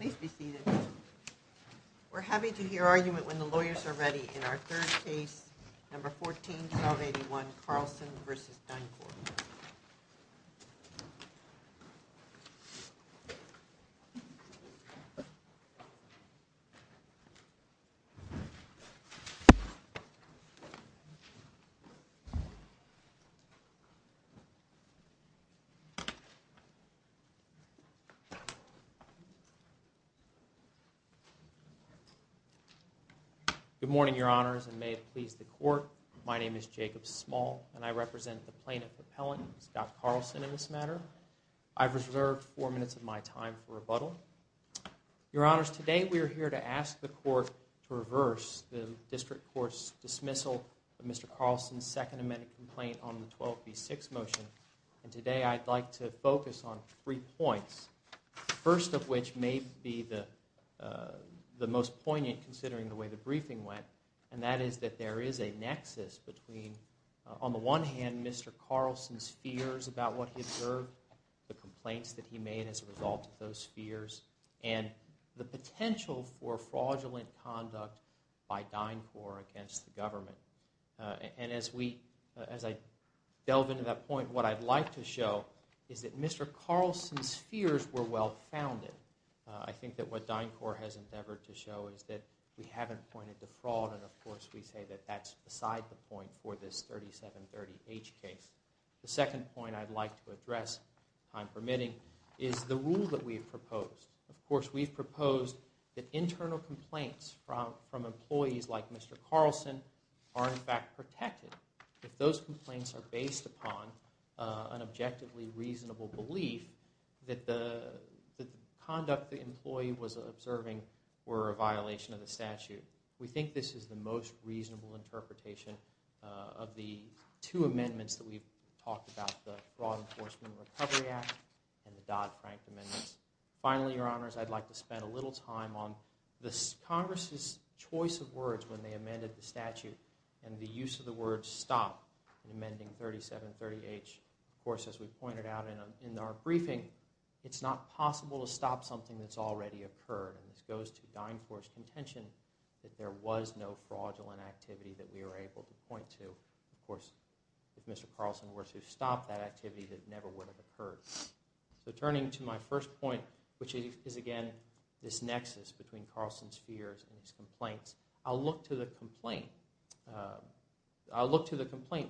Please be seated. We're happy to hear argument when the lawyers are ready in our third case, number 14-781 Carlson v. DynCorp. Good morning, Your Honors, and may it please the Court, my name is Jacob Small, and I represent the plaintiff appellant, Scott Carlson, in this matter. I've reserved four minutes of my time for rebuttal. Your Honors, today we are here to ask the Court to reverse the District Court's dismissal of Mr. Carlson's Second Amendment complaint on the 12b6 motion. And today I'd like to focus on three points, the first of which may be the most poignant considering the way the briefing went, and that is that there is a nexus between, on the one hand, Mr. Carlson's fears about what he observed, the complaints that he made as a result of those fears, and the potential for fraudulent conduct by DynCorp against the government. And as I delve into that point, what I'd like to show is that Mr. Carlson's fears were well-founded. I think that what DynCorp has endeavored to show is that we haven't pointed to fraud, and of course we say that that's beside the point for this 3730H case. The second point I'd like to address, if I'm permitting, is the rule that we've proposed. Of course, we've proposed that internal complaints from employees like Mr. Carlson are in fact protected, if those complaints are based upon an objectively reasonable belief that the conduct the employee was observing were a violation of the statute. We think this is the most reasonable interpretation of the two amendments that we've talked about, the Fraud Enforcement Recovery Act and the Dodd-Frank amendments. Finally, Your Honors, I'd like to spend a little time on Congress's choice of words when they amended the statute, and the use of the word stop in amending 3730H. Of course, as we pointed out in our briefing, it's not possible to stop something that's already occurred, and this goes to DynCorp's contention that there was no fraudulent activity that we were able to point to. Of course, if Mr. Carlson were to stop that activity, that never would have occurred. So turning to my first point, which is again this nexus between Carlson's fears and his complaints, I'll look to the complaint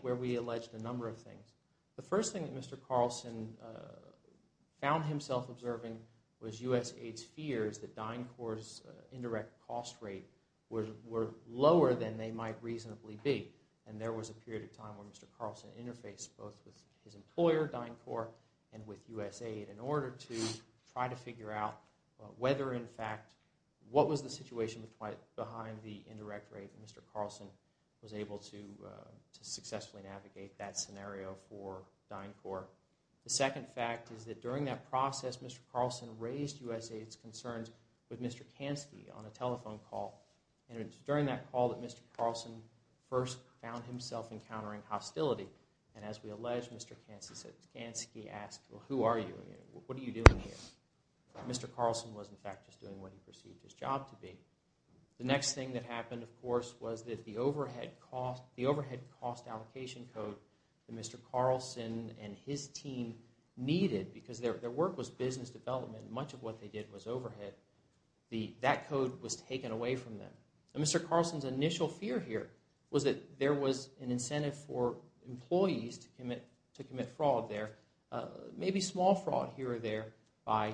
where we alleged a number of things. The first thing that Mr. Carlson found himself observing was USAID's fears that DynCorp's indirect cost rate were lower than they might reasonably be, and there was a period of time when Mr. Carlson interfaced both with his employer, DynCorp, and with USAID in order to try to figure out whether, in fact, what was the situation behind the indirect rate that Mr. Carlson was able to successfully navigate that scenario for DynCorp. The second fact is that during that process, Mr. Carlson raised USAID's concerns with Mr. Kansky on a telephone call, and it was during that call that Mr. Carlson first found himself encountering hostility, and as we allege, Mr. Kansky asked, well, who are you? What are you doing here? Mr. Carlson was, in fact, just doing what he perceived his job to be. The next thing that happened, of course, was that the overhead cost allocation code that Mr. Carlson and his team needed, because their work was business development and much of what they did was overhead, that code was taken away from them. Mr. Carlson's initial fear here was that there was an incentive for employees to commit fraud there, maybe small fraud here or there, by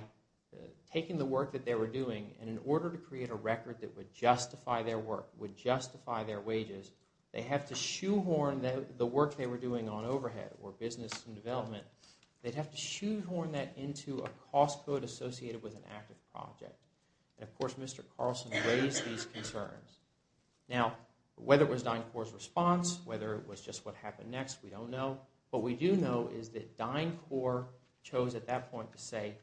taking the work that they were doing, and in order to create a record that would justify their work, would justify their wages, they'd have to shoehorn the work they were doing on overhead or business and development, they'd have to shoehorn that into a cost code associated with an active project. And, of course, Mr. Carlson raised these concerns. Now, whether it was DynCorp's response, whether it was just what happened next, we don't know. What we do know is that DynCorp chose at that point to say,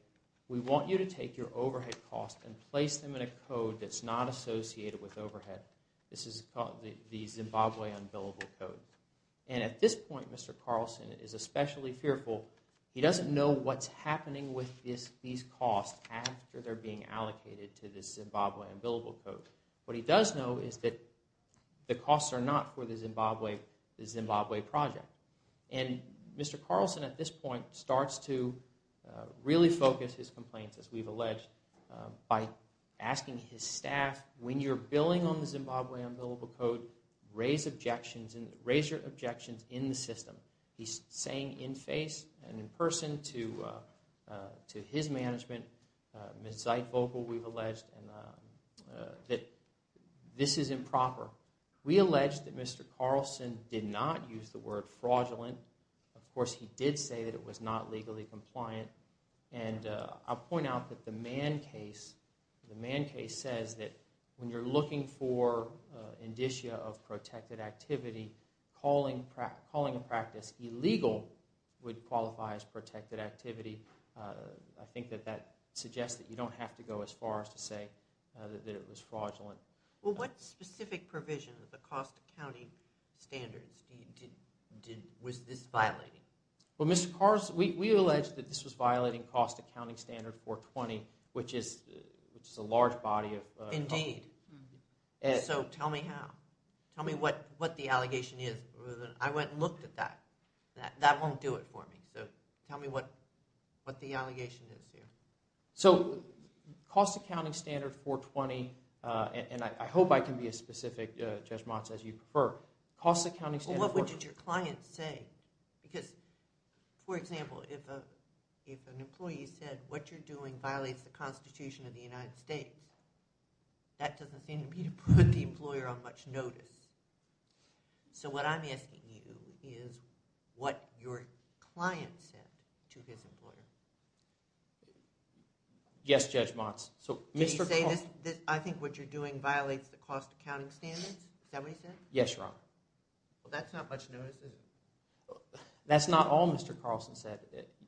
we want you to take your overhead costs and place them in a code that's not associated with overhead. This is called the Zimbabwe Unbillable Code. And at this point, Mr. Carlson is especially fearful. He doesn't know what's happening with these costs after they're being allocated to the Zimbabwe Unbillable Code. What he does know is that the costs are not for the Zimbabwe project. And Mr. Carlson, at this point, starts to really focus his complaints, as we've alleged, by asking his staff, when you're billing on the Zimbabwe Unbillable Code, raise objections in the system. He's saying in face and in person to his management, Ms. Zeitvogel, we've alleged, that this is improper. We allege that Mr. Carlson did not use the word fraudulent. Of course, he did say that it was not legally compliant. And I'll point out that the Mann case says that when you're looking for indicia of protected activity, calling a practice illegal would qualify as protected activity. I think that that suggests that you don't have to go as far as to say that it was fraudulent. Well, what specific provision of the cost accounting standards was this violating? Well, Mr. Carlson, we allege that this was violating cost accounting standard 420, which is a large body of... Indeed. So tell me how. Tell me what the allegation is. I went and looked at that. That won't do it for me. So tell me what the allegation is here. So cost accounting standard 420, and I hope I can be as specific, Judge Motz, as you prefer. Cost accounting standard 420... Well, what would your client say? Because, for example, if an employee said, what you're doing violates the Constitution of the United States, that doesn't seem to be to put the employer on much notice. So what I'm asking you is what your client said to his employer. Yes, Judge Motz. Did he say, I think what you're doing violates the cost accounting standards? Is that what he said? Yes, Your Honor. Well, that's not much notice, is it? That's not all Mr. Carlson said.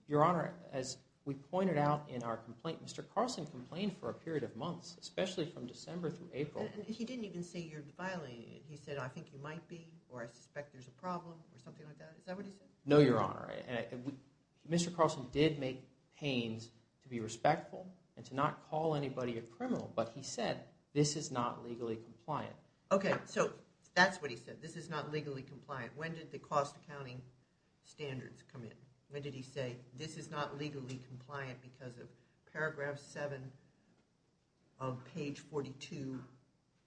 Your Honor, as we pointed out in our complaint, Mr. Carlson complained for a period of months, especially from December through April. He didn't even say you're violating it. He said, I think you might be, or I suspect there's a problem, or something like that. Is that what he said? No, Your Honor. Mr. Carlson did make claims to be respectful and to not call anybody a criminal, but he said this is not legally compliant. Okay, so that's what he said. This is not legally compliant. When did the cost accounting standards come in? When did he say, this is not legally compliant because of paragraph 7 of page 42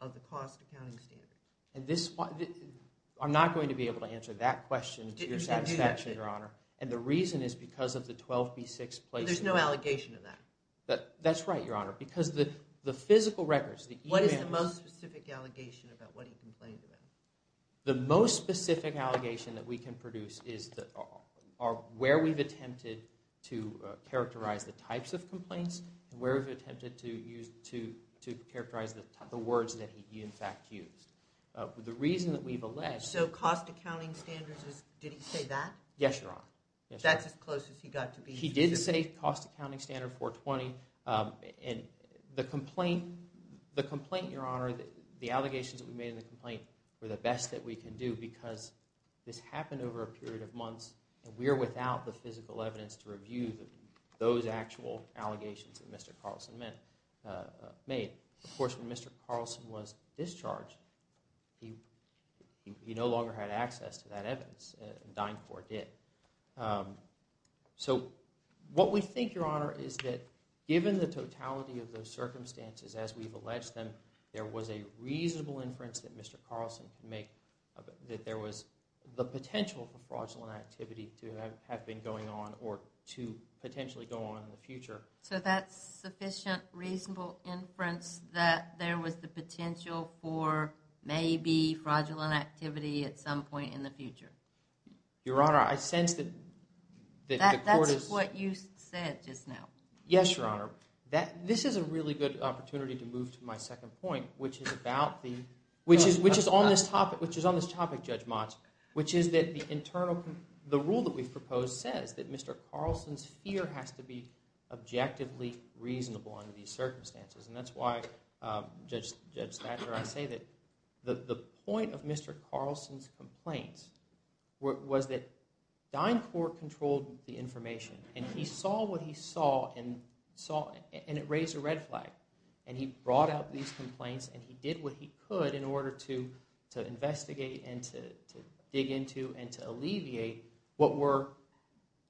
of the cost accounting standards? I'm not going to be able to answer that question to your satisfaction, Your Honor. And the reason is because of the 12B6 placement. There's no allegation of that? That's right, Your Honor. Because the physical records, the emails. What is the most specific allegation about what he complained about? The most specific allegation that we can produce is where we've attempted to characterize the types of complaints, where we've attempted to characterize the words that he, in fact, used. The reason that we've alleged... So cost accounting standards, did he say that? Yes, Your Honor. That's as close as he got to being... He did say cost accounting standard 420. The complaint, Your Honor, the allegations that we made in the complaint were the best that we can do because this happened over a period of months, and we are without the physical evidence to review those actual allegations that Mr. Carlson made. Of course, when Mr. Carlson was discharged, he no longer had access to that evidence, and DynCorp did. So what we think, Your Honor, is that given the totality of those circumstances as we've alleged them, there was a reasonable inference that Mr. Carlson could make that there was the potential for fraudulent activity to have been going on or to potentially go on in the future. So that's sufficient reasonable inference that there was the potential for maybe fraudulent activity at some point in the future? Your Honor, I sense that the court is... That's what you said just now. Yes, Your Honor. This is a really good opportunity to move to my second point, which is about the... Which is on this topic, Judge Motz, which is that the rule that we've proposed says that Mr. Carlson's fear has to be objectively reasonable under these circumstances. And that's why, Judge Statler, I say that the point of Mr. Carlson's complaints was that DynCorp controlled the information. And he saw what he saw, and it raised a red flag. And he brought out these complaints, and he did what he could in order to investigate and to dig into and to alleviate what were,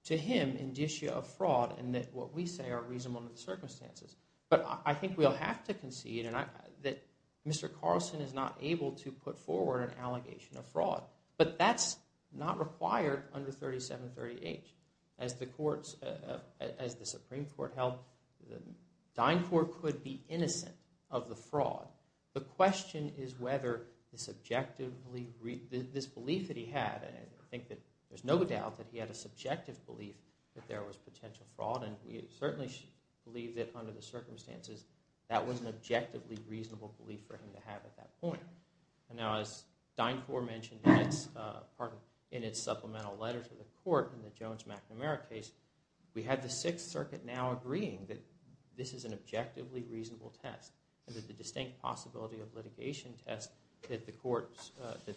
to him, indicia of fraud and that what we say are reasonable under the circumstances. But I think we'll have to concede that Mr. Carlson is not able to put forward an allegation of fraud. But that's not required under 3738. As the Supreme Court held, DynCorp could be innocent of the fraud. The question is whether this belief that he had, and I think that there's no doubt that he had a subjective belief that there was potential fraud. And we certainly believe that under the circumstances, that was an objectively reasonable belief for him to have at that point. And now, as DynCorp mentioned in its supplemental letter to the court in the Jones-McNamara case, we had the Sixth Circuit now agreeing that this is an objectively reasonable test, and that the distinct possibility of litigation test that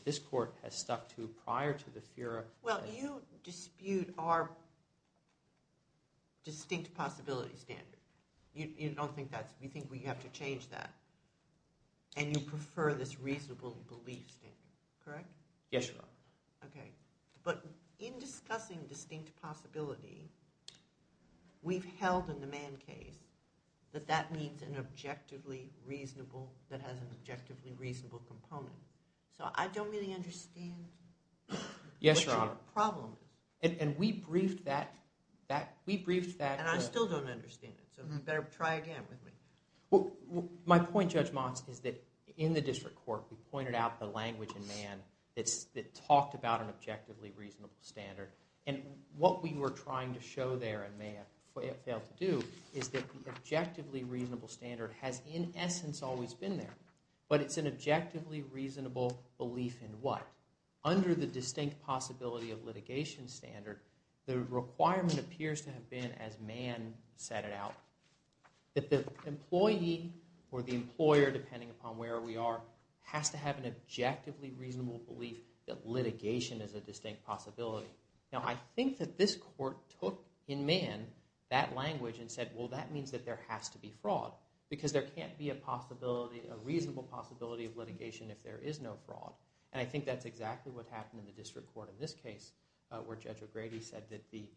this court has stuck to prior to the Fura. Well, you dispute our distinct possibility standard. You don't think that's – you think we have to change that, and you prefer this reasonable belief standard, correct? Yes, Your Honor. Okay. But in discussing distinct possibility, we've held in the Mann case that that means an objectively reasonable – that has an objectively reasonable component. So I don't really understand – Yes, Your Honor. – what your problem is. And we briefed that – we briefed that – And I still don't understand it, so you better try again with me. Well, my point, Judge Motz, is that in the district court, we pointed out the language in Mann that talked about an objectively reasonable standard. And what we were trying to show there in Mann, what it failed to do, is that the objectively reasonable standard has in essence always been there. But it's an objectively reasonable belief in what? Under the distinct possibility of litigation standard, the requirement appears to have been, as Mann set it out, that the employee or the employer, depending upon where we are, has to have an objectively reasonable belief that litigation is a distinct possibility. Now, I think that this court took in Mann that language and said, well, that means that there has to be fraud, because there can't be a possibility – a reasonable possibility of litigation if there is no fraud. And I think that's exactly what happened in the district court in this case, where Judge O'Grady said that the –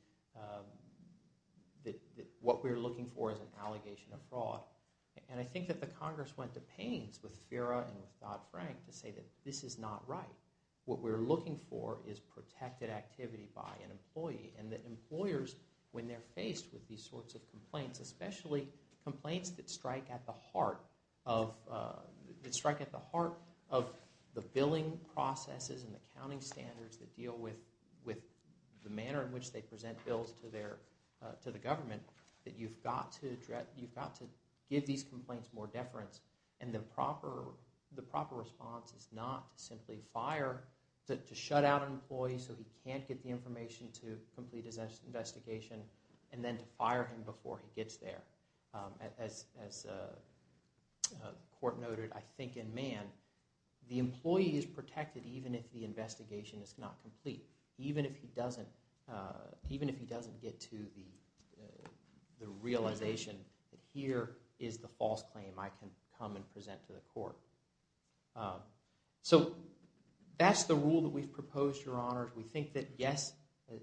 that what we're looking for is an allegation of fraud. And I think that the Congress went to pains with Fira and with Dodd-Frank to say that this is not right. What we're looking for is protected activity by an employee. And that employers, when they're faced with these sorts of complaints, especially complaints that strike at the heart of – that strike at the heart of the billing processes and accounting standards that deal with the manner in which they present bills to their – to the government, that you've got to – you've got to give these complaints more deference. And the proper – the proper response is not simply fire, but to shut out an employee so he can't get the information to complete his investigation, and then to fire him before he gets there. As the court noted, I think in Mann, the employee is protected even if the investigation is not complete, even if he doesn't – even if he doesn't get to the realization that here is the false claim I can come and present to the court. So that's the rule that we've proposed, Your Honors. We think that, yes,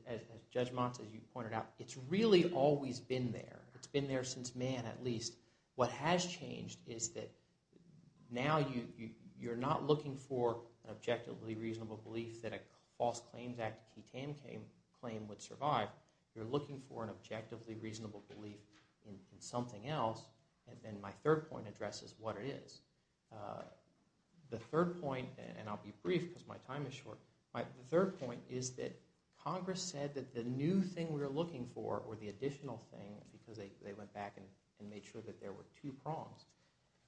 as Judge Montes, as you pointed out, it's really always been there. It's been there since Mann, at least. What has changed is that now you're not looking for an objectively reasonable belief that a false claims act claim would survive. You're looking for an objectively reasonable belief in something else, and my third point addresses what it is. The third point – and I'll be brief because my time is short – but my third point is that Congress said that the new thing we're looking for, or the additional thing, because they went back and made sure that there were two prongs,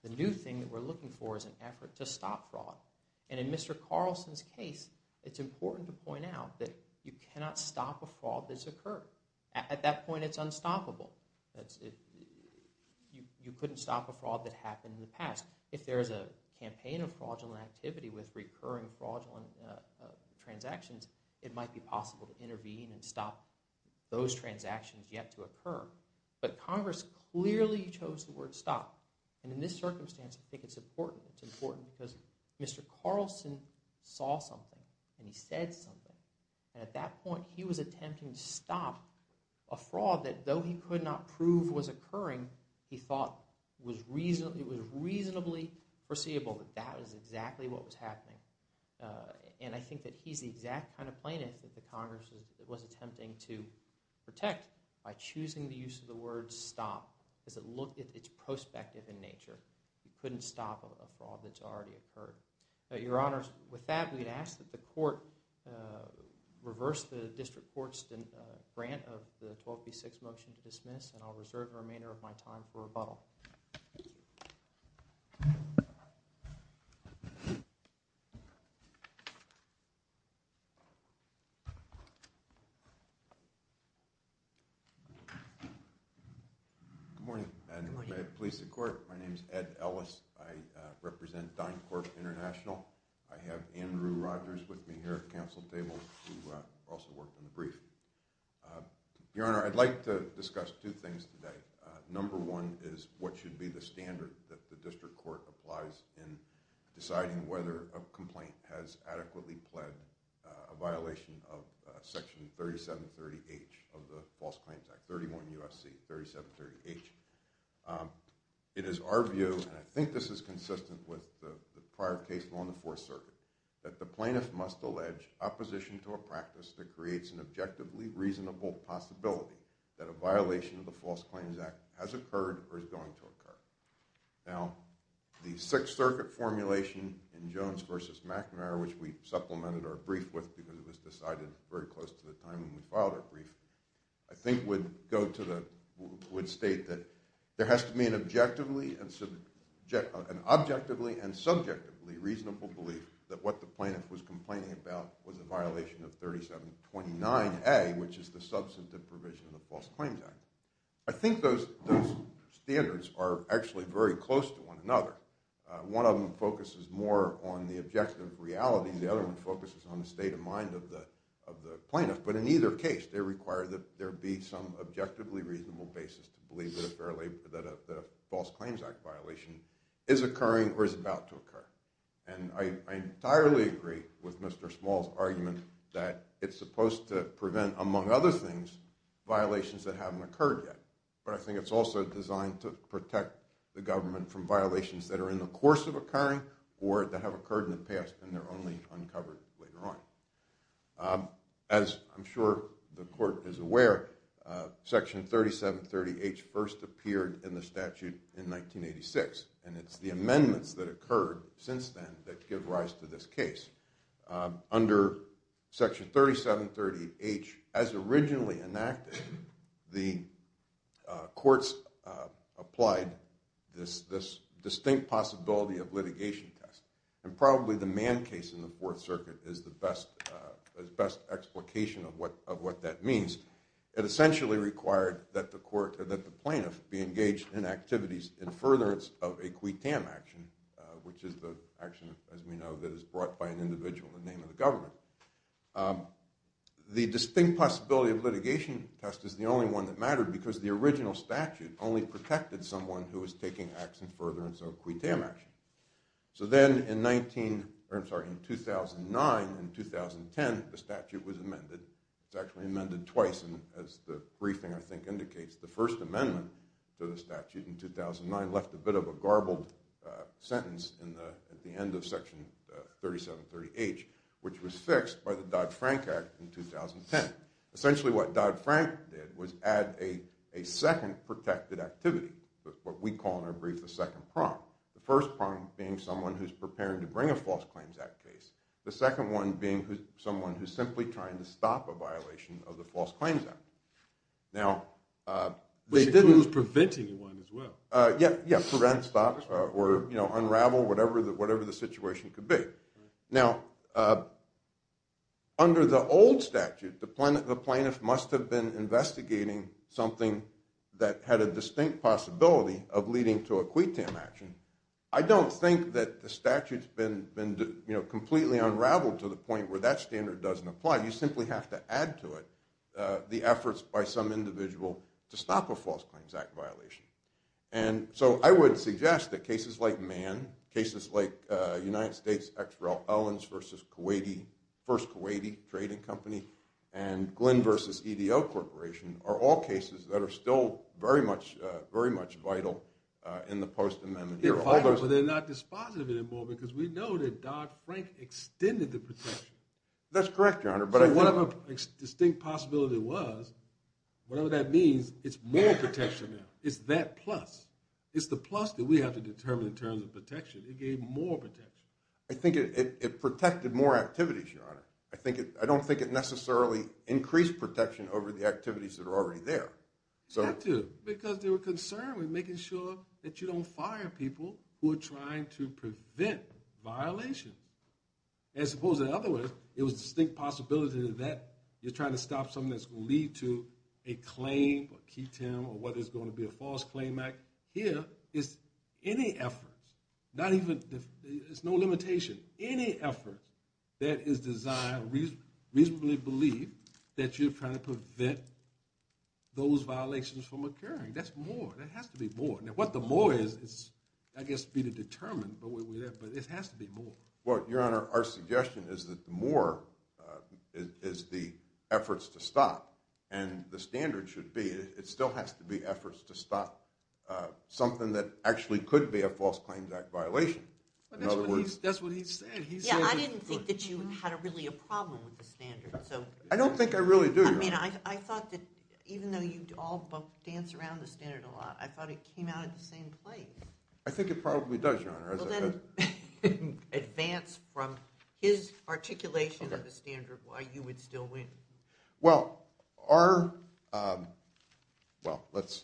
the new thing that we're looking for is an effort to stop fraud. And in Mr. Carlson's case, it's important to point out that you cannot stop a fraud that's occurred. At that point, it's unstoppable. You couldn't stop a fraud that happened in the past. If there is a campaign of fraudulent activity with recurring fraudulent transactions, it might be possible to intervene and stop those transactions yet to occur. But Congress clearly chose the word stop. And in this circumstance, I think it's important. It's important because Mr. Carlson saw something and he said something. And at that point, he was attempting to stop a fraud that, though he could not prove was occurring, he thought it was reasonably foreseeable that that was exactly what was happening. And I think that he's the exact kind of plaintiff that the Congress was attempting to protect by choosing the use of the word stop because it looked at its prospective in nature. You couldn't stop a fraud that's already occurred. Your Honors, with that, we'd ask that the Court reverse the District Court's grant of the 12B6 motion to dismiss, and I'll reserve the remainder of my time for rebuttal. Good morning, and may it please the Court. My name is Ed Ellis. I represent DynCorp International. I have Andrew Rogers with me here at the Council table who also worked on the brief. Your Honor, I'd like to discuss two things today. Number one is what should be the standard that the District Court applies in deciding whether a complaint has adequately pled a violation of Section 3730H of the False Claims Act, 31 U.S.C. 3730H. It is our view, and I think this is consistent with the prior case along the Fourth Circuit, that the plaintiff must allege opposition to a practice that creates an objectively reasonable possibility that a violation of the False Claims Act has occurred or is going to occur. Now, the Sixth Circuit formulation in Jones v. McNair, which we supplemented our brief with because it was decided very close to the time when we filed our brief, I think would state that there has to be an objectively and subjectively reasonable belief that what the plaintiff was complaining about was a violation of 3729A, which is the substantive provision of the False Claims Act. I think those standards are actually very close to one another. One of them focuses more on the objective reality. The other one focuses on the state of mind of the plaintiff. But in either case, they require that there be some objectively reasonable basis to believe that a False Claims Act violation is occurring or is about to occur. And I entirely agree with Mr. Small's argument that it's supposed to prevent, among other things, violations that haven't occurred yet. But I think it's also designed to protect the government from violations that are in the course of occurring or that have occurred in the past and they're only uncovered later on. As I'm sure the Court is aware, Section 3730H first appeared in the statute in 1986, and it's the amendments that occurred since then that give rise to this case. Under Section 3730H, as originally enacted, the courts applied this distinct possibility of litigation test. And probably the Mann case in the Fourth Circuit is the best explication of what that means. It essentially required that the plaintiff be engaged in activities in furtherance of a quitam action, which is the action, as we know, that is brought by an individual in the name of the government. The distinct possibility of litigation test is the only one that mattered because the original statute only protected someone who was taking acts in furtherance of a quitam action. So then in 2009 and 2010, the statute was amended. It was actually amended twice, and as the briefing, I think, indicates, the First Amendment to the statute in 2009 left a bit of a garbled sentence at the end of Section 3730H, which was fixed by the Dodd-Frank Act in 2010. Essentially what Dodd-Frank did was add a second protected activity, what we call in our brief the second prompt. The first prompt being someone who's preparing to bring a False Claims Act case. The second one being someone who's simply trying to stop a violation of the False Claims Act. Now, they didn't- It was preventing one as well. Yeah, prevent, stop, or unravel whatever the situation could be. Now, under the old statute, the plaintiff must have been investigating something that had a distinct possibility of leading to a quitam action. I don't think that the statute's been completely unraveled to the point where that standard doesn't apply. You simply have to add to it the efforts by some individual to stop a False Claims Act violation. And so I would suggest that cases like Mann, cases like United States' X. Rel. Owens versus Kuwaiti, and Glenn versus EDO Corporation are all cases that are still very much vital in the post-amendment year. But they're not dispositive anymore because we know that Dodd-Frank extended the protection. That's correct, Your Honor, but I think- So whatever the distinct possibility was, whatever that means, it's more protection now. It's that plus. It's the plus that we have to determine in terms of protection. It gave more protection. I think it protected more activities, Your Honor. I don't think it necessarily increased protection over the activities that are already there. Statute, because they were concerned with making sure that you don't fire people who are trying to prevent violation. As opposed to the other way, it was a distinct possibility that you're trying to stop something that's going to lead to a claim, or quitam, or what is going to be a False Claim Act. Here, it's any effort. It's no limitation. Any effort that is designed, reasonably believed, that you're trying to prevent those violations from occurring. That's more. There has to be more. Now, what the more is, I guess, to be determined, but it has to be more. Well, Your Honor, our suggestion is that the more is the efforts to stop, and the standard should be, it still has to be efforts to stop something that actually could be a False Claims Act violation. That's what he said. I didn't think that you had really a problem with the standard. I don't think I really do, Your Honor. I thought that even though you all dance around the standard a lot, I thought it came out at the same place. I think it probably does, Your Honor. Advance from his articulation of the standard, why you would still win. Well, our – well, let's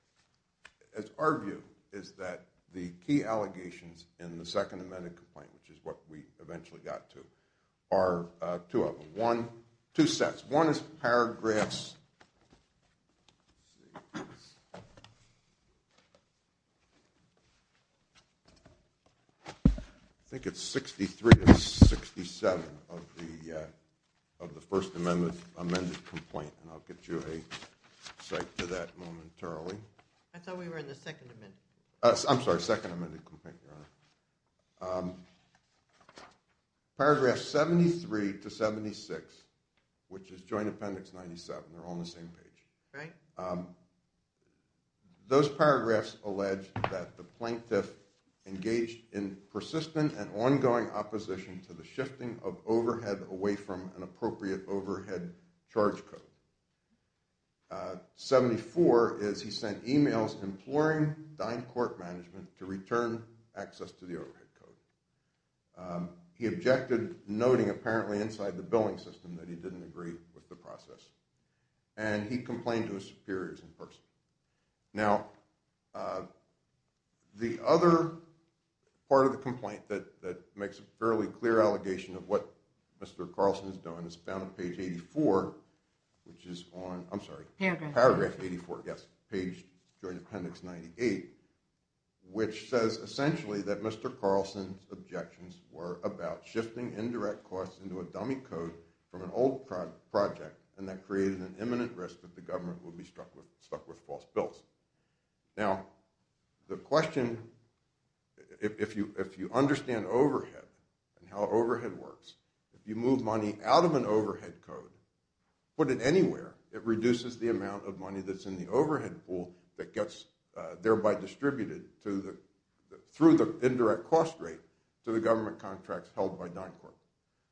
– our view is that the key allegations in the Second Amendment complaint, which is what we eventually got to, are two of them, two sets. One is Paragraphs – I think it's 63 to 67 of the First Amendment complaint, and I'll get you a cite to that momentarily. I thought we were in the Second Amendment. I'm sorry, Second Amendment complaint, Your Honor. Paragraphs 73 to 76, which is Joint Appendix 97, they're all on the same page. Those paragraphs allege that the plaintiff engaged in persistent and ongoing opposition to the shifting of overhead away from an appropriate overhead charge code. 74 is he sent emails imploring Dine Court management to return access to the overhead code. He objected, noting apparently inside the billing system that he didn't agree with the process, and he complained to his superiors in person. Now, the other part of the complaint that makes a fairly clear allegation of what Mr. Carlson is doing is found on page 84, which is on – I'm sorry. Paragraph 84, yes, page Joint Appendix 98, which says essentially that Mr. Carlson's objections were about shifting indirect costs into a dummy code from an old project, and that created an imminent risk that the government would be stuck with false bills. Now, the question, if you understand overhead and how overhead works, if you move money out of an overhead code, put it anywhere, it reduces the amount of money that's in the overhead pool that gets thereby distributed through the indirect cost rate to the government contracts held by Dine Court.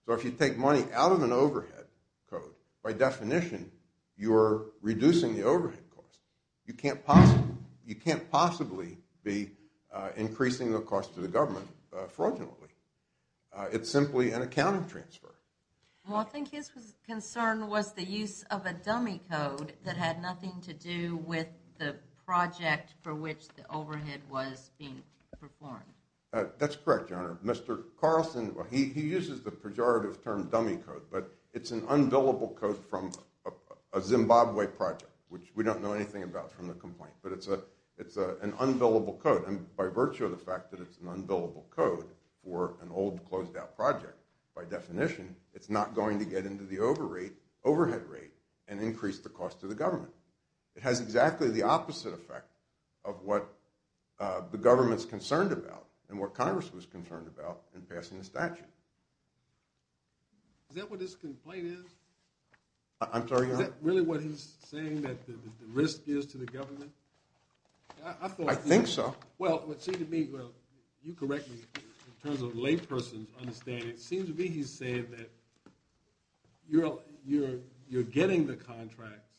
So if you take money out of an overhead code, by definition, you're reducing the overhead cost. You can't possibly be increasing the cost to the government fraudulently. It's simply an accounting transfer. Well, I think his concern was the use of a dummy code that had nothing to do with the project for which the overhead was being performed. That's correct, Your Honor. Mr. Carlson, well, he uses the pejorative term dummy code, but it's an unbillable code from a Zimbabwe project, which we don't know anything about from the complaint, but it's an unbillable code. And by virtue of the fact that it's an unbillable code for an old, closed-out project, by definition, it's not going to get into the overhead rate and increase the cost to the government. It has exactly the opposite effect of what the government's concerned about and what Congress was concerned about in passing the statute. Is that what this complaint is? I'm sorry, Your Honor? Is that really what he's saying, that the risk is to the government? I think so. Well, it would seem to me, well, you correct me in terms of laypersons understand it, it seems to me he's saying that you're getting the contracts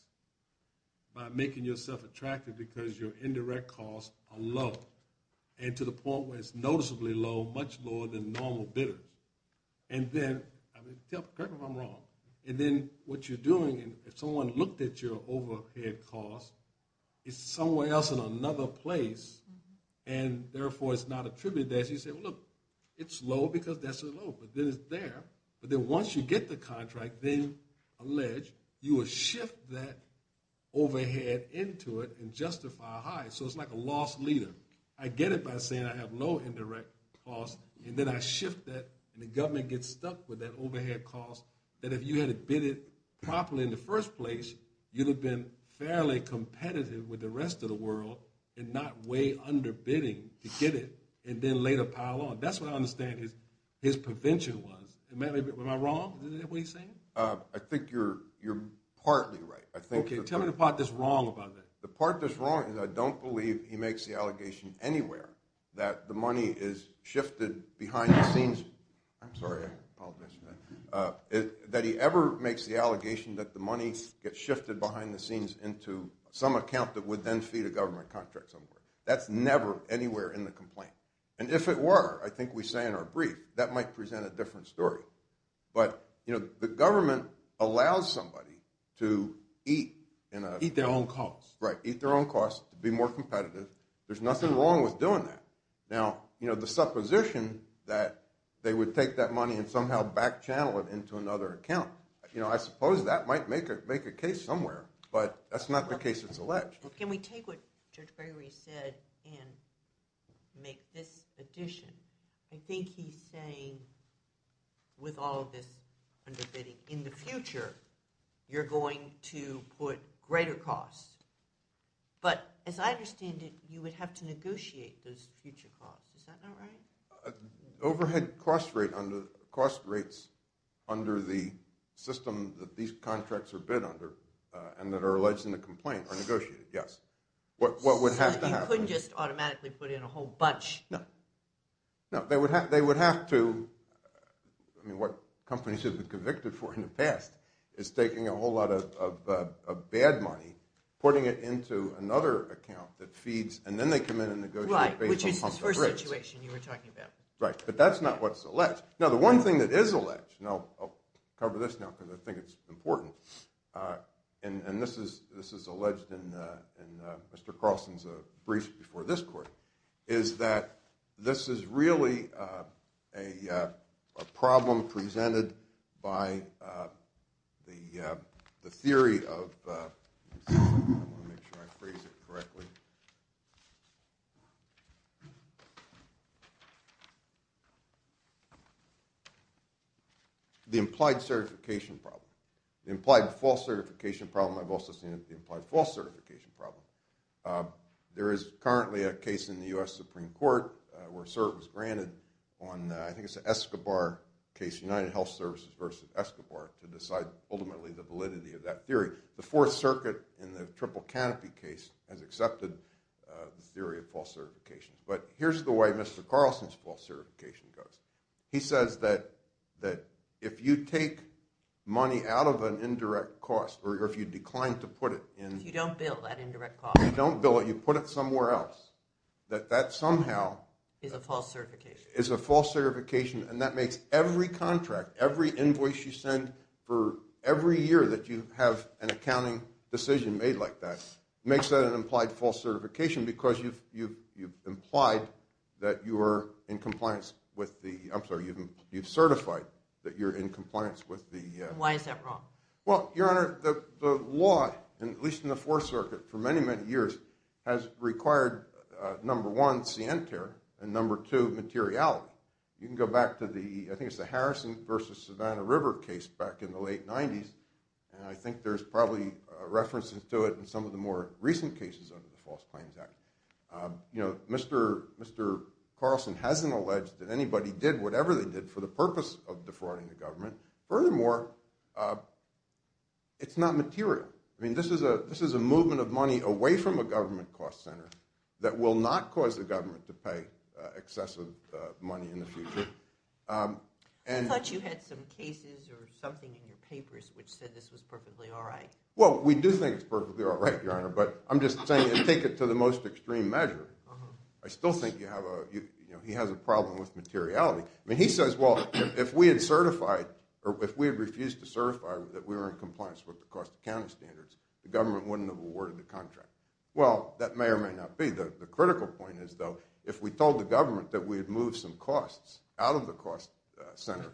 by making yourself attracted because your indirect costs are low and to the point where it's noticeably low, much lower than normal bidder. And then, correct me if I'm wrong, and then what you're doing, if someone looked at your overhead cost, it's somewhere else in another place, and therefore it's not attributed there. So you say, well, look, it's low because that's so low. But then it's there. But then once you get the contract, then alleged, you will shift that overhead into it and justify a high. So it's like a loss leader. I get it by saying I have low indirect costs, and then I shift that, and the government gets stuck with that overhead cost that if you had bid it properly in the first place, you'd have been fairly competitive with the rest of the world and not way under bidding to get it and then later pile on. That's what I understand his prevention was. Am I wrong? Is that what he's saying? I think you're partly right. Okay. Tell me the part that's wrong about that. The part that's wrong is I don't believe he makes the allegation anywhere that the money is shifted behind the scenes. I'm sorry, I apologize for that. That he ever makes the allegation that the money gets shifted behind the scenes into some account that would then feed a government contract somewhere. That's never anywhere in the complaint. And if it were, I think we say in our brief, that might present a different story. But, you know, the government allows somebody to eat. Eat their own costs. Right, eat their own costs, be more competitive. There's nothing wrong with doing that. Now, you know, the supposition that they would take that money and somehow back channel it into another account, you know, I suppose that might make a case somewhere, but that's not the case it's alleged. Can we take what Judge Gregory said and make this addition? I think he's saying with all of this underbidding, in the future, you're going to put greater costs. But as I understand it, you would have to negotiate those future costs. Is that not right? Overhead cost rates under the system that these contracts are bid under and that are alleged in the complaint are negotiated, yes. What would have to happen? You couldn't just automatically put in a whole bunch. No. No, they would have to. I mean, what companies have been convicted for in the past is taking a whole lot of bad money, putting it into another account that feeds, and then they come in and negotiate. Right, which is this first situation you were talking about. Right, but that's not what's alleged. Now, the one thing that is alleged, and I'll cover this now because I think it's important, and this is alleged in Mr. Carlson's brief before this court, is that this is really a problem presented by the theory of the implied certification problem. The implied false certification problem. I've also seen it in the implied false certification problem. There is currently a case in the U.S. Supreme Court where a cert was granted on, I think it's an Escobar case, United Health Services versus Escobar, to decide ultimately the validity of that theory. The Fourth Circuit in the triple canopy case has accepted the theory of false certification. But here's the way Mr. Carlson's false certification goes. He says that if you take money out of an indirect cost, or if you decline to put it in. If you don't bill that indirect cost. If you don't bill it, you put it somewhere else, that that somehow. Is a false certification. Is a false certification, and that makes every contract, every invoice you send for every year that you have an accounting decision made like that, makes that an implied false certification because you've implied that you are in compliance with the, I'm sorry, you've certified that you're in compliance with the. Why is that wrong? Well, Your Honor, the law, at least in the Fourth Circuit, for many, many years, has required number one, scienter, and number two, materiality. You can go back to the, I think it's the Harrison versus Savannah River case back in the late 90s, and I think there's probably references to it in some of the more recent cases under the False Claims Act. You know, Mr. Carlson hasn't alleged that anybody did whatever they did for the purpose of defrauding the government. Furthermore, it's not material. I mean, this is a movement of money away from a government cost center that will not cause the government to pay excessive money in the future. I thought you had some cases or something in your papers which said this was perfectly all right. Well, we do think it's perfectly all right, Your Honor, but I'm just saying, and take it to the most extreme measure, I still think you have a, you know, he has a problem with materiality. I mean, he says, well, if we had certified or if we had refused to certify that we were in compliance with the cost accounting standards, the government wouldn't have awarded the contract. Well, that may or may not be. The critical point is, though, if we told the government that we had moved some costs out of the cost center,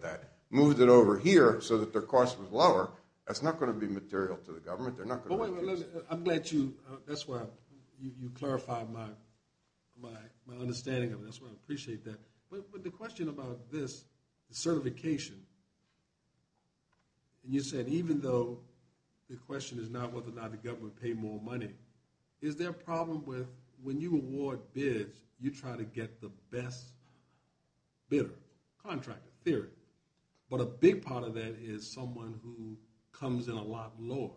that moved it over here so that their cost was lower, that's not going to be material to the government. They're not going to want to use it. Well, wait a minute. I'm glad you, that's why you clarified my understanding of it. That's why I appreciate that. But the question about this, the certification, and you said even though the question is not whether or not the government would pay more money, is there a problem with when you award bids, you try to get the best bidder, contractor, period. But a big part of that is someone who comes in a lot lower.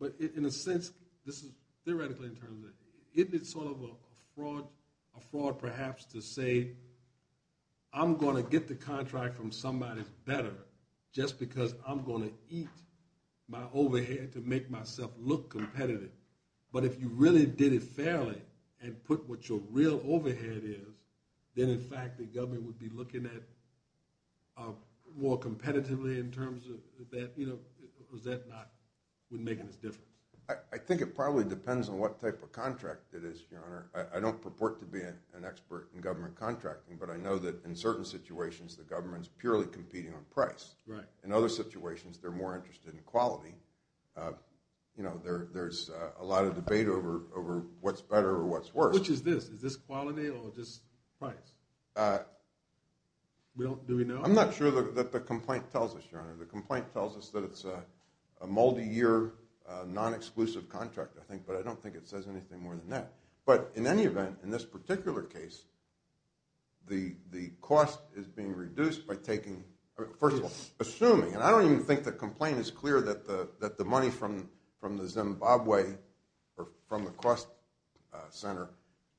But in a sense, this is theoretically in terms of, isn't it sort of a fraud perhaps to say, I'm going to get the contract from somebody better just because I'm going to eat my overhead to make myself look competitive. But if you really did it fairly and put what your real overhead is, then in fact the government would be looking at more competitively in terms of that. You know, is that not making us different? I think it probably depends on what type of contract it is, Your Honor. I don't purport to be an expert in government contracting, but I know that in certain situations the government is purely competing on price. Right. In other situations they're more interested in quality. You know, there's a lot of debate over what's better or what's worse. Which is this? Is this quality or just price? Do we know? I'm not sure that the complaint tells us, Your Honor. The complaint tells us that it's a multi-year non-exclusive contract I think, but I don't think it says anything more than that. But in any event, in this particular case, the cost is being reduced by taking, first of all, assuming, and I don't even think the complaint is clear that the money from the Zimbabwe or from the cost center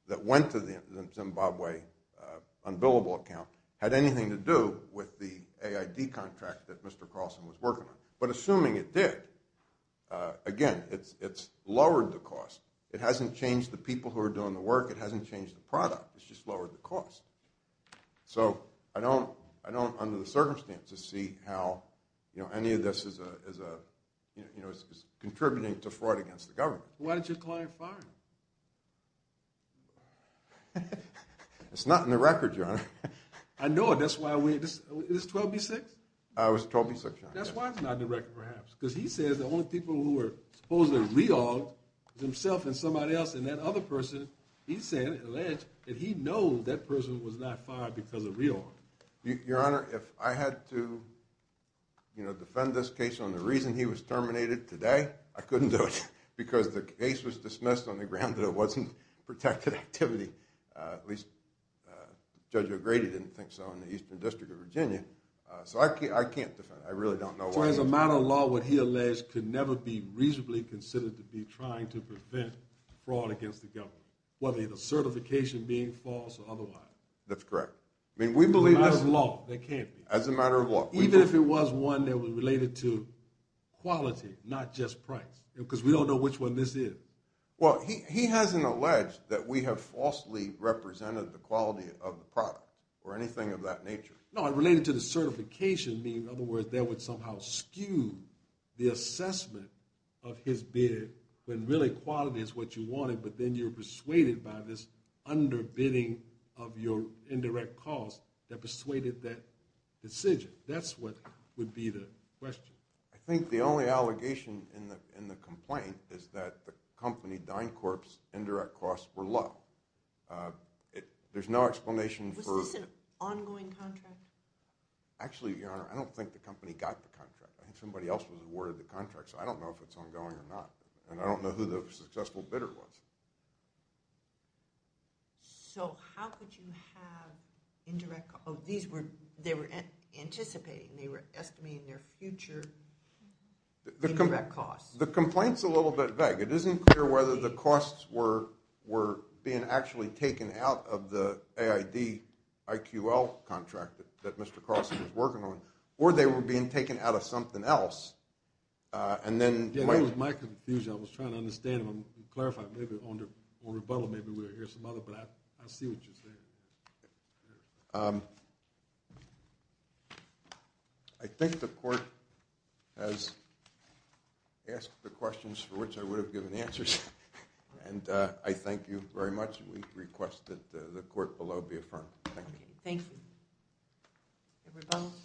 that went to the Zimbabwe unbillable account had anything to do with the AID contract that Mr. Carlson was working on. But assuming it did, again, it's lowered the cost. It hasn't changed the people who are doing the work. It hasn't changed the product. It's just lowered the cost. So I don't, under the circumstances, see how any of this is contributing to fraud against the government. Why did your client fire him? It's not in the record, Your Honor. I know it. That's why we, is this 12B-6? It was 12B-6, Your Honor. That's why it's not in the record perhaps. Because he says the only people who are supposedly real is himself and somebody else, and that other person, he said, alleged that he knows that person was not fired because of real. Your Honor, if I had to, you know, defend this case on the reason he was terminated today, I couldn't do it because the case was dismissed on the ground that it wasn't protected activity. At least Judge O'Grady didn't think so in the Eastern District of Virginia. So I can't defend it. I really don't know why. As a matter of law, what he alleged could never be reasonably considered to be trying to prevent fraud against the government, whether the certification being false or otherwise. That's correct. As a matter of law, that can't be. As a matter of law. Even if it was one that was related to quality, not just price, because we don't know which one this is. Well, he hasn't alleged that we have falsely represented the quality of the product or anything of that nature. No, it related to the certification. In other words, that would somehow skew the assessment of his bid when really quality is what you wanted, but then you're persuaded by this underbidding of your indirect costs that persuaded that decision. That's what would be the question. I think the only allegation in the complaint is that the company, DynCorp's, indirect costs were low. There's no explanation for – Actually, Your Honor, I don't think the company got the contract. I think somebody else was awarded the contract, so I don't know if it's ongoing or not, and I don't know who the successful bidder was. So how could you have indirect – oh, these were – they were anticipating. They were estimating their future indirect costs. The complaint's a little bit vague. It isn't clear whether the costs were being actually taken out of the AID IQL contract that Mr. Cross was working on or they were being taken out of something else, and then – Yeah, that was my confusion. I was trying to understand and clarify. Maybe on rebuttal, maybe we'll hear some other, but I see what you're saying. Thank you. I think the court has asked the questions for which I would have given answers, and I thank you very much, and we request that the court below be affirmed. Thank you. Thank you. Rebuttal, please.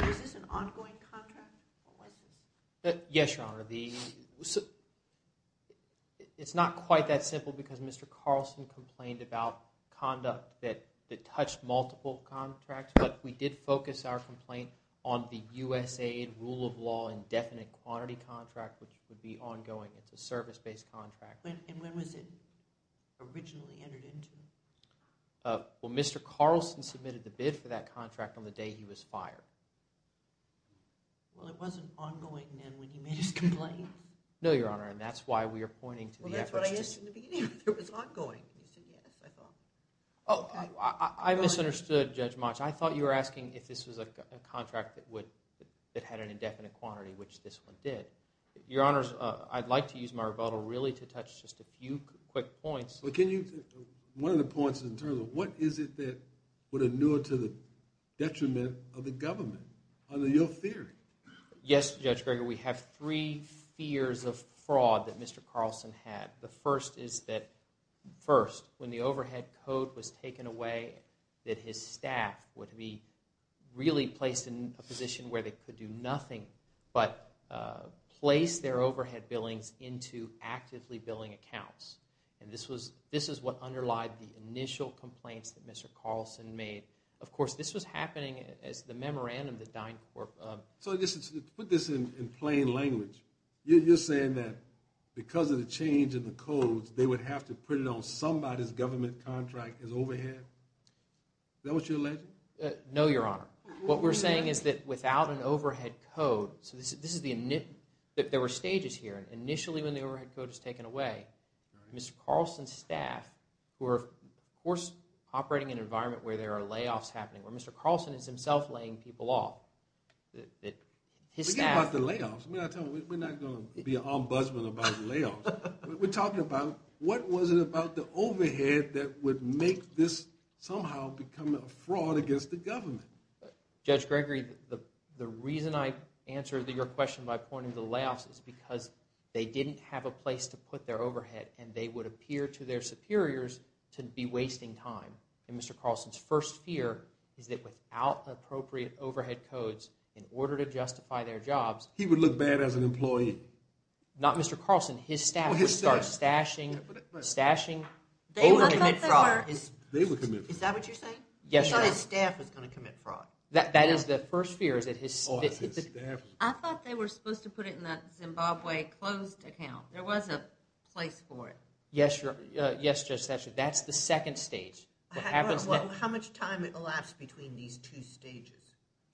So is this an ongoing contract? What was this? Yes, Your Honor. It's not quite that simple because Mr. Carlson complained about conduct that touched multiple contracts, but we did focus our complaint on the USAID rule of law indefinite quantity contract, which would be ongoing. It's a service-based contract. And when was it originally entered into? Well, Mr. Carlson submitted the bid for that contract on the day he was fired. Well, it wasn't ongoing then when he made his complaint? No, Your Honor, and that's why we are pointing to the efforts to – Well, that's what I asked in the beginning if it was ongoing, and you said yes, I thought. Oh, I misunderstood, Judge Motsch. I thought you were asking if this was a contract that had an indefinite quantity, which this one did. Your Honors, I'd like to use my rebuttal really to touch just a few quick points. One of the points is in terms of what is it that would inure to the detriment of the government under your theory? Yes, Judge Greger, we have three fears of fraud that Mr. Carlson had. The first is that first, when the overhead code was taken away, that his staff would be really placed in a position where they could do nothing but place their overhead billings into actively billing accounts. And this is what underlied the initial complaints that Mr. Carlson made. Of course, this was happening as the memorandum that DynCorp – So, to put this in plain language, you're saying that because of the change in the codes, they would have to put it on somebody's government contract as overhead? Is that what you're alleging? No, Your Honor. What we're saying is that without an overhead code – There were stages here. Initially, when the overhead code was taken away, Mr. Carlson's staff were, of course, operating in an environment where there are layoffs happening, where Mr. Carlson is himself laying people off. Forget about the layoffs. We're not going to be an ombudsman about layoffs. We're talking about what was it about the overhead that would make this somehow become a fraud against the government? Judge Gregory, the reason I answered your question by pointing to the layoffs is because they didn't have a place to put their overhead, and they would appear to their superiors to be wasting time. And Mr. Carlson's first fear is that without appropriate overhead codes, in order to justify their jobs – He would look bad as an employee? Not Mr. Carlson. His staff would start stashing, over-commit fraud. Is that what you're saying? Yes, Your Honor. I thought his staff was going to commit fraud. That is the first fear. I thought they were supposed to put it in that Zimbabwe closed account. There was a place for it. Yes, Judge Session. That's the second stage. How much time elapsed between these two stages?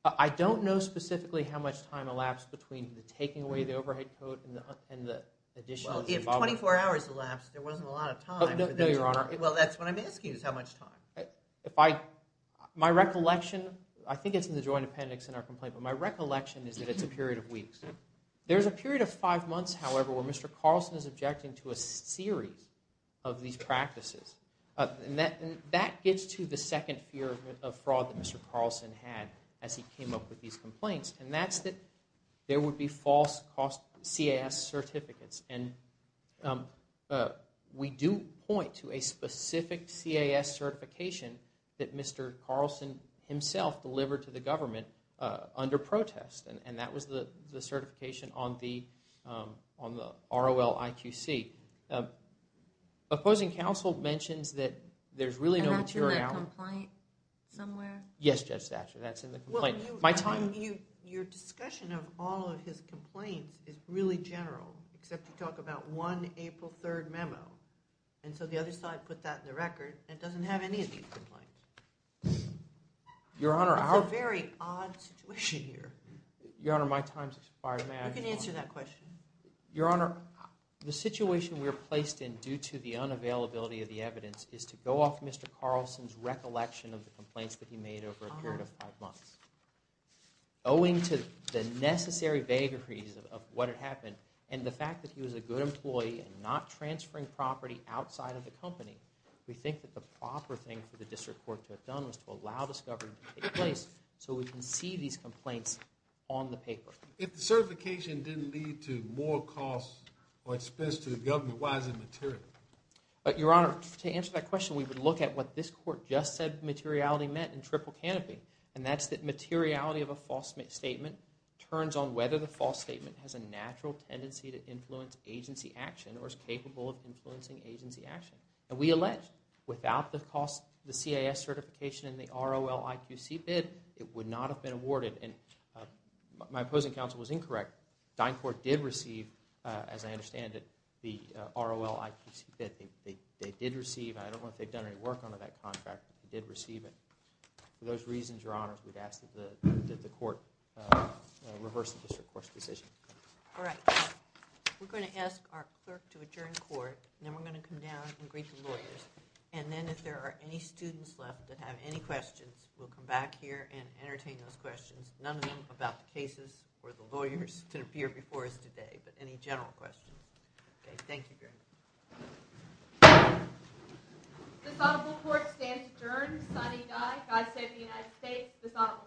I don't know specifically how much time elapsed between the taking away of the overhead code and the addition of Zimbabwe. Well, if 24 hours elapsed, there wasn't a lot of time. No, Your Honor. Well, that's what I'm asking is how much time. My recollection, I think it's in the Joint Appendix in our complaint, but my recollection is that it's a period of weeks. There's a period of five months, however, where Mr. Carlson is objecting to a series of these practices. And that gets to the second fear of fraud that Mr. Carlson had as he came up with these complaints. And that's that there would be false CAS certificates. And we do point to a specific CAS certification that Mr. Carlson himself delivered to the government under protest. And that was the certification on the ROL IQC. Opposing counsel mentions that there's really no materiality. Is that in that complaint somewhere? Yes, Judge Satcher. That's in the complaint. Your discussion of all of his complaints is really general, except you talk about one April 3rd memo. And so the other side put that in the record, and it doesn't have any of these complaints. It's a very odd situation here. Your Honor, my time's expired. You can answer that question. Your Honor, the situation we're placed in due to the unavailability of the evidence is to go off Mr. Carlson's recollection of the complaints that he made over a period of five months. Owing to the necessary vagaries of what had happened and the fact that he was a good employee and not transferring property outside of the company, we think that the proper thing for the district court to have done was to allow discovery to take place so we can see these complaints on the paper. If the certification didn't lead to more costs or expense to the government, why is it material? Your Honor, to answer that question, we would look at what this court just said materiality meant in triple canopy. And that's that materiality of a false statement turns on whether the false statement has a natural tendency to influence agency action or is capable of influencing agency action. And we allege without the CAS certification and the ROL-IQC bid, it would not have been awarded. And my opposing counsel was incorrect. DynCorp did receive, as I understand it, the ROL-IQC bid. They did receive it. I don't know if they've done any work under that contract, but they did receive it. For those reasons, Your Honor, we'd ask that the court reverse the district court's decision. All right. We're going to ask our clerk to adjourn court, and then we're going to come down and greet the lawyers. And then if there are any students left that have any questions, we'll come back here and entertain those questions, none of them about the cases where the lawyers can appear before us today, but any general questions. Okay. Thank you very much. This honorable court stands adjourned, signing die. God save the United States. This honorable court.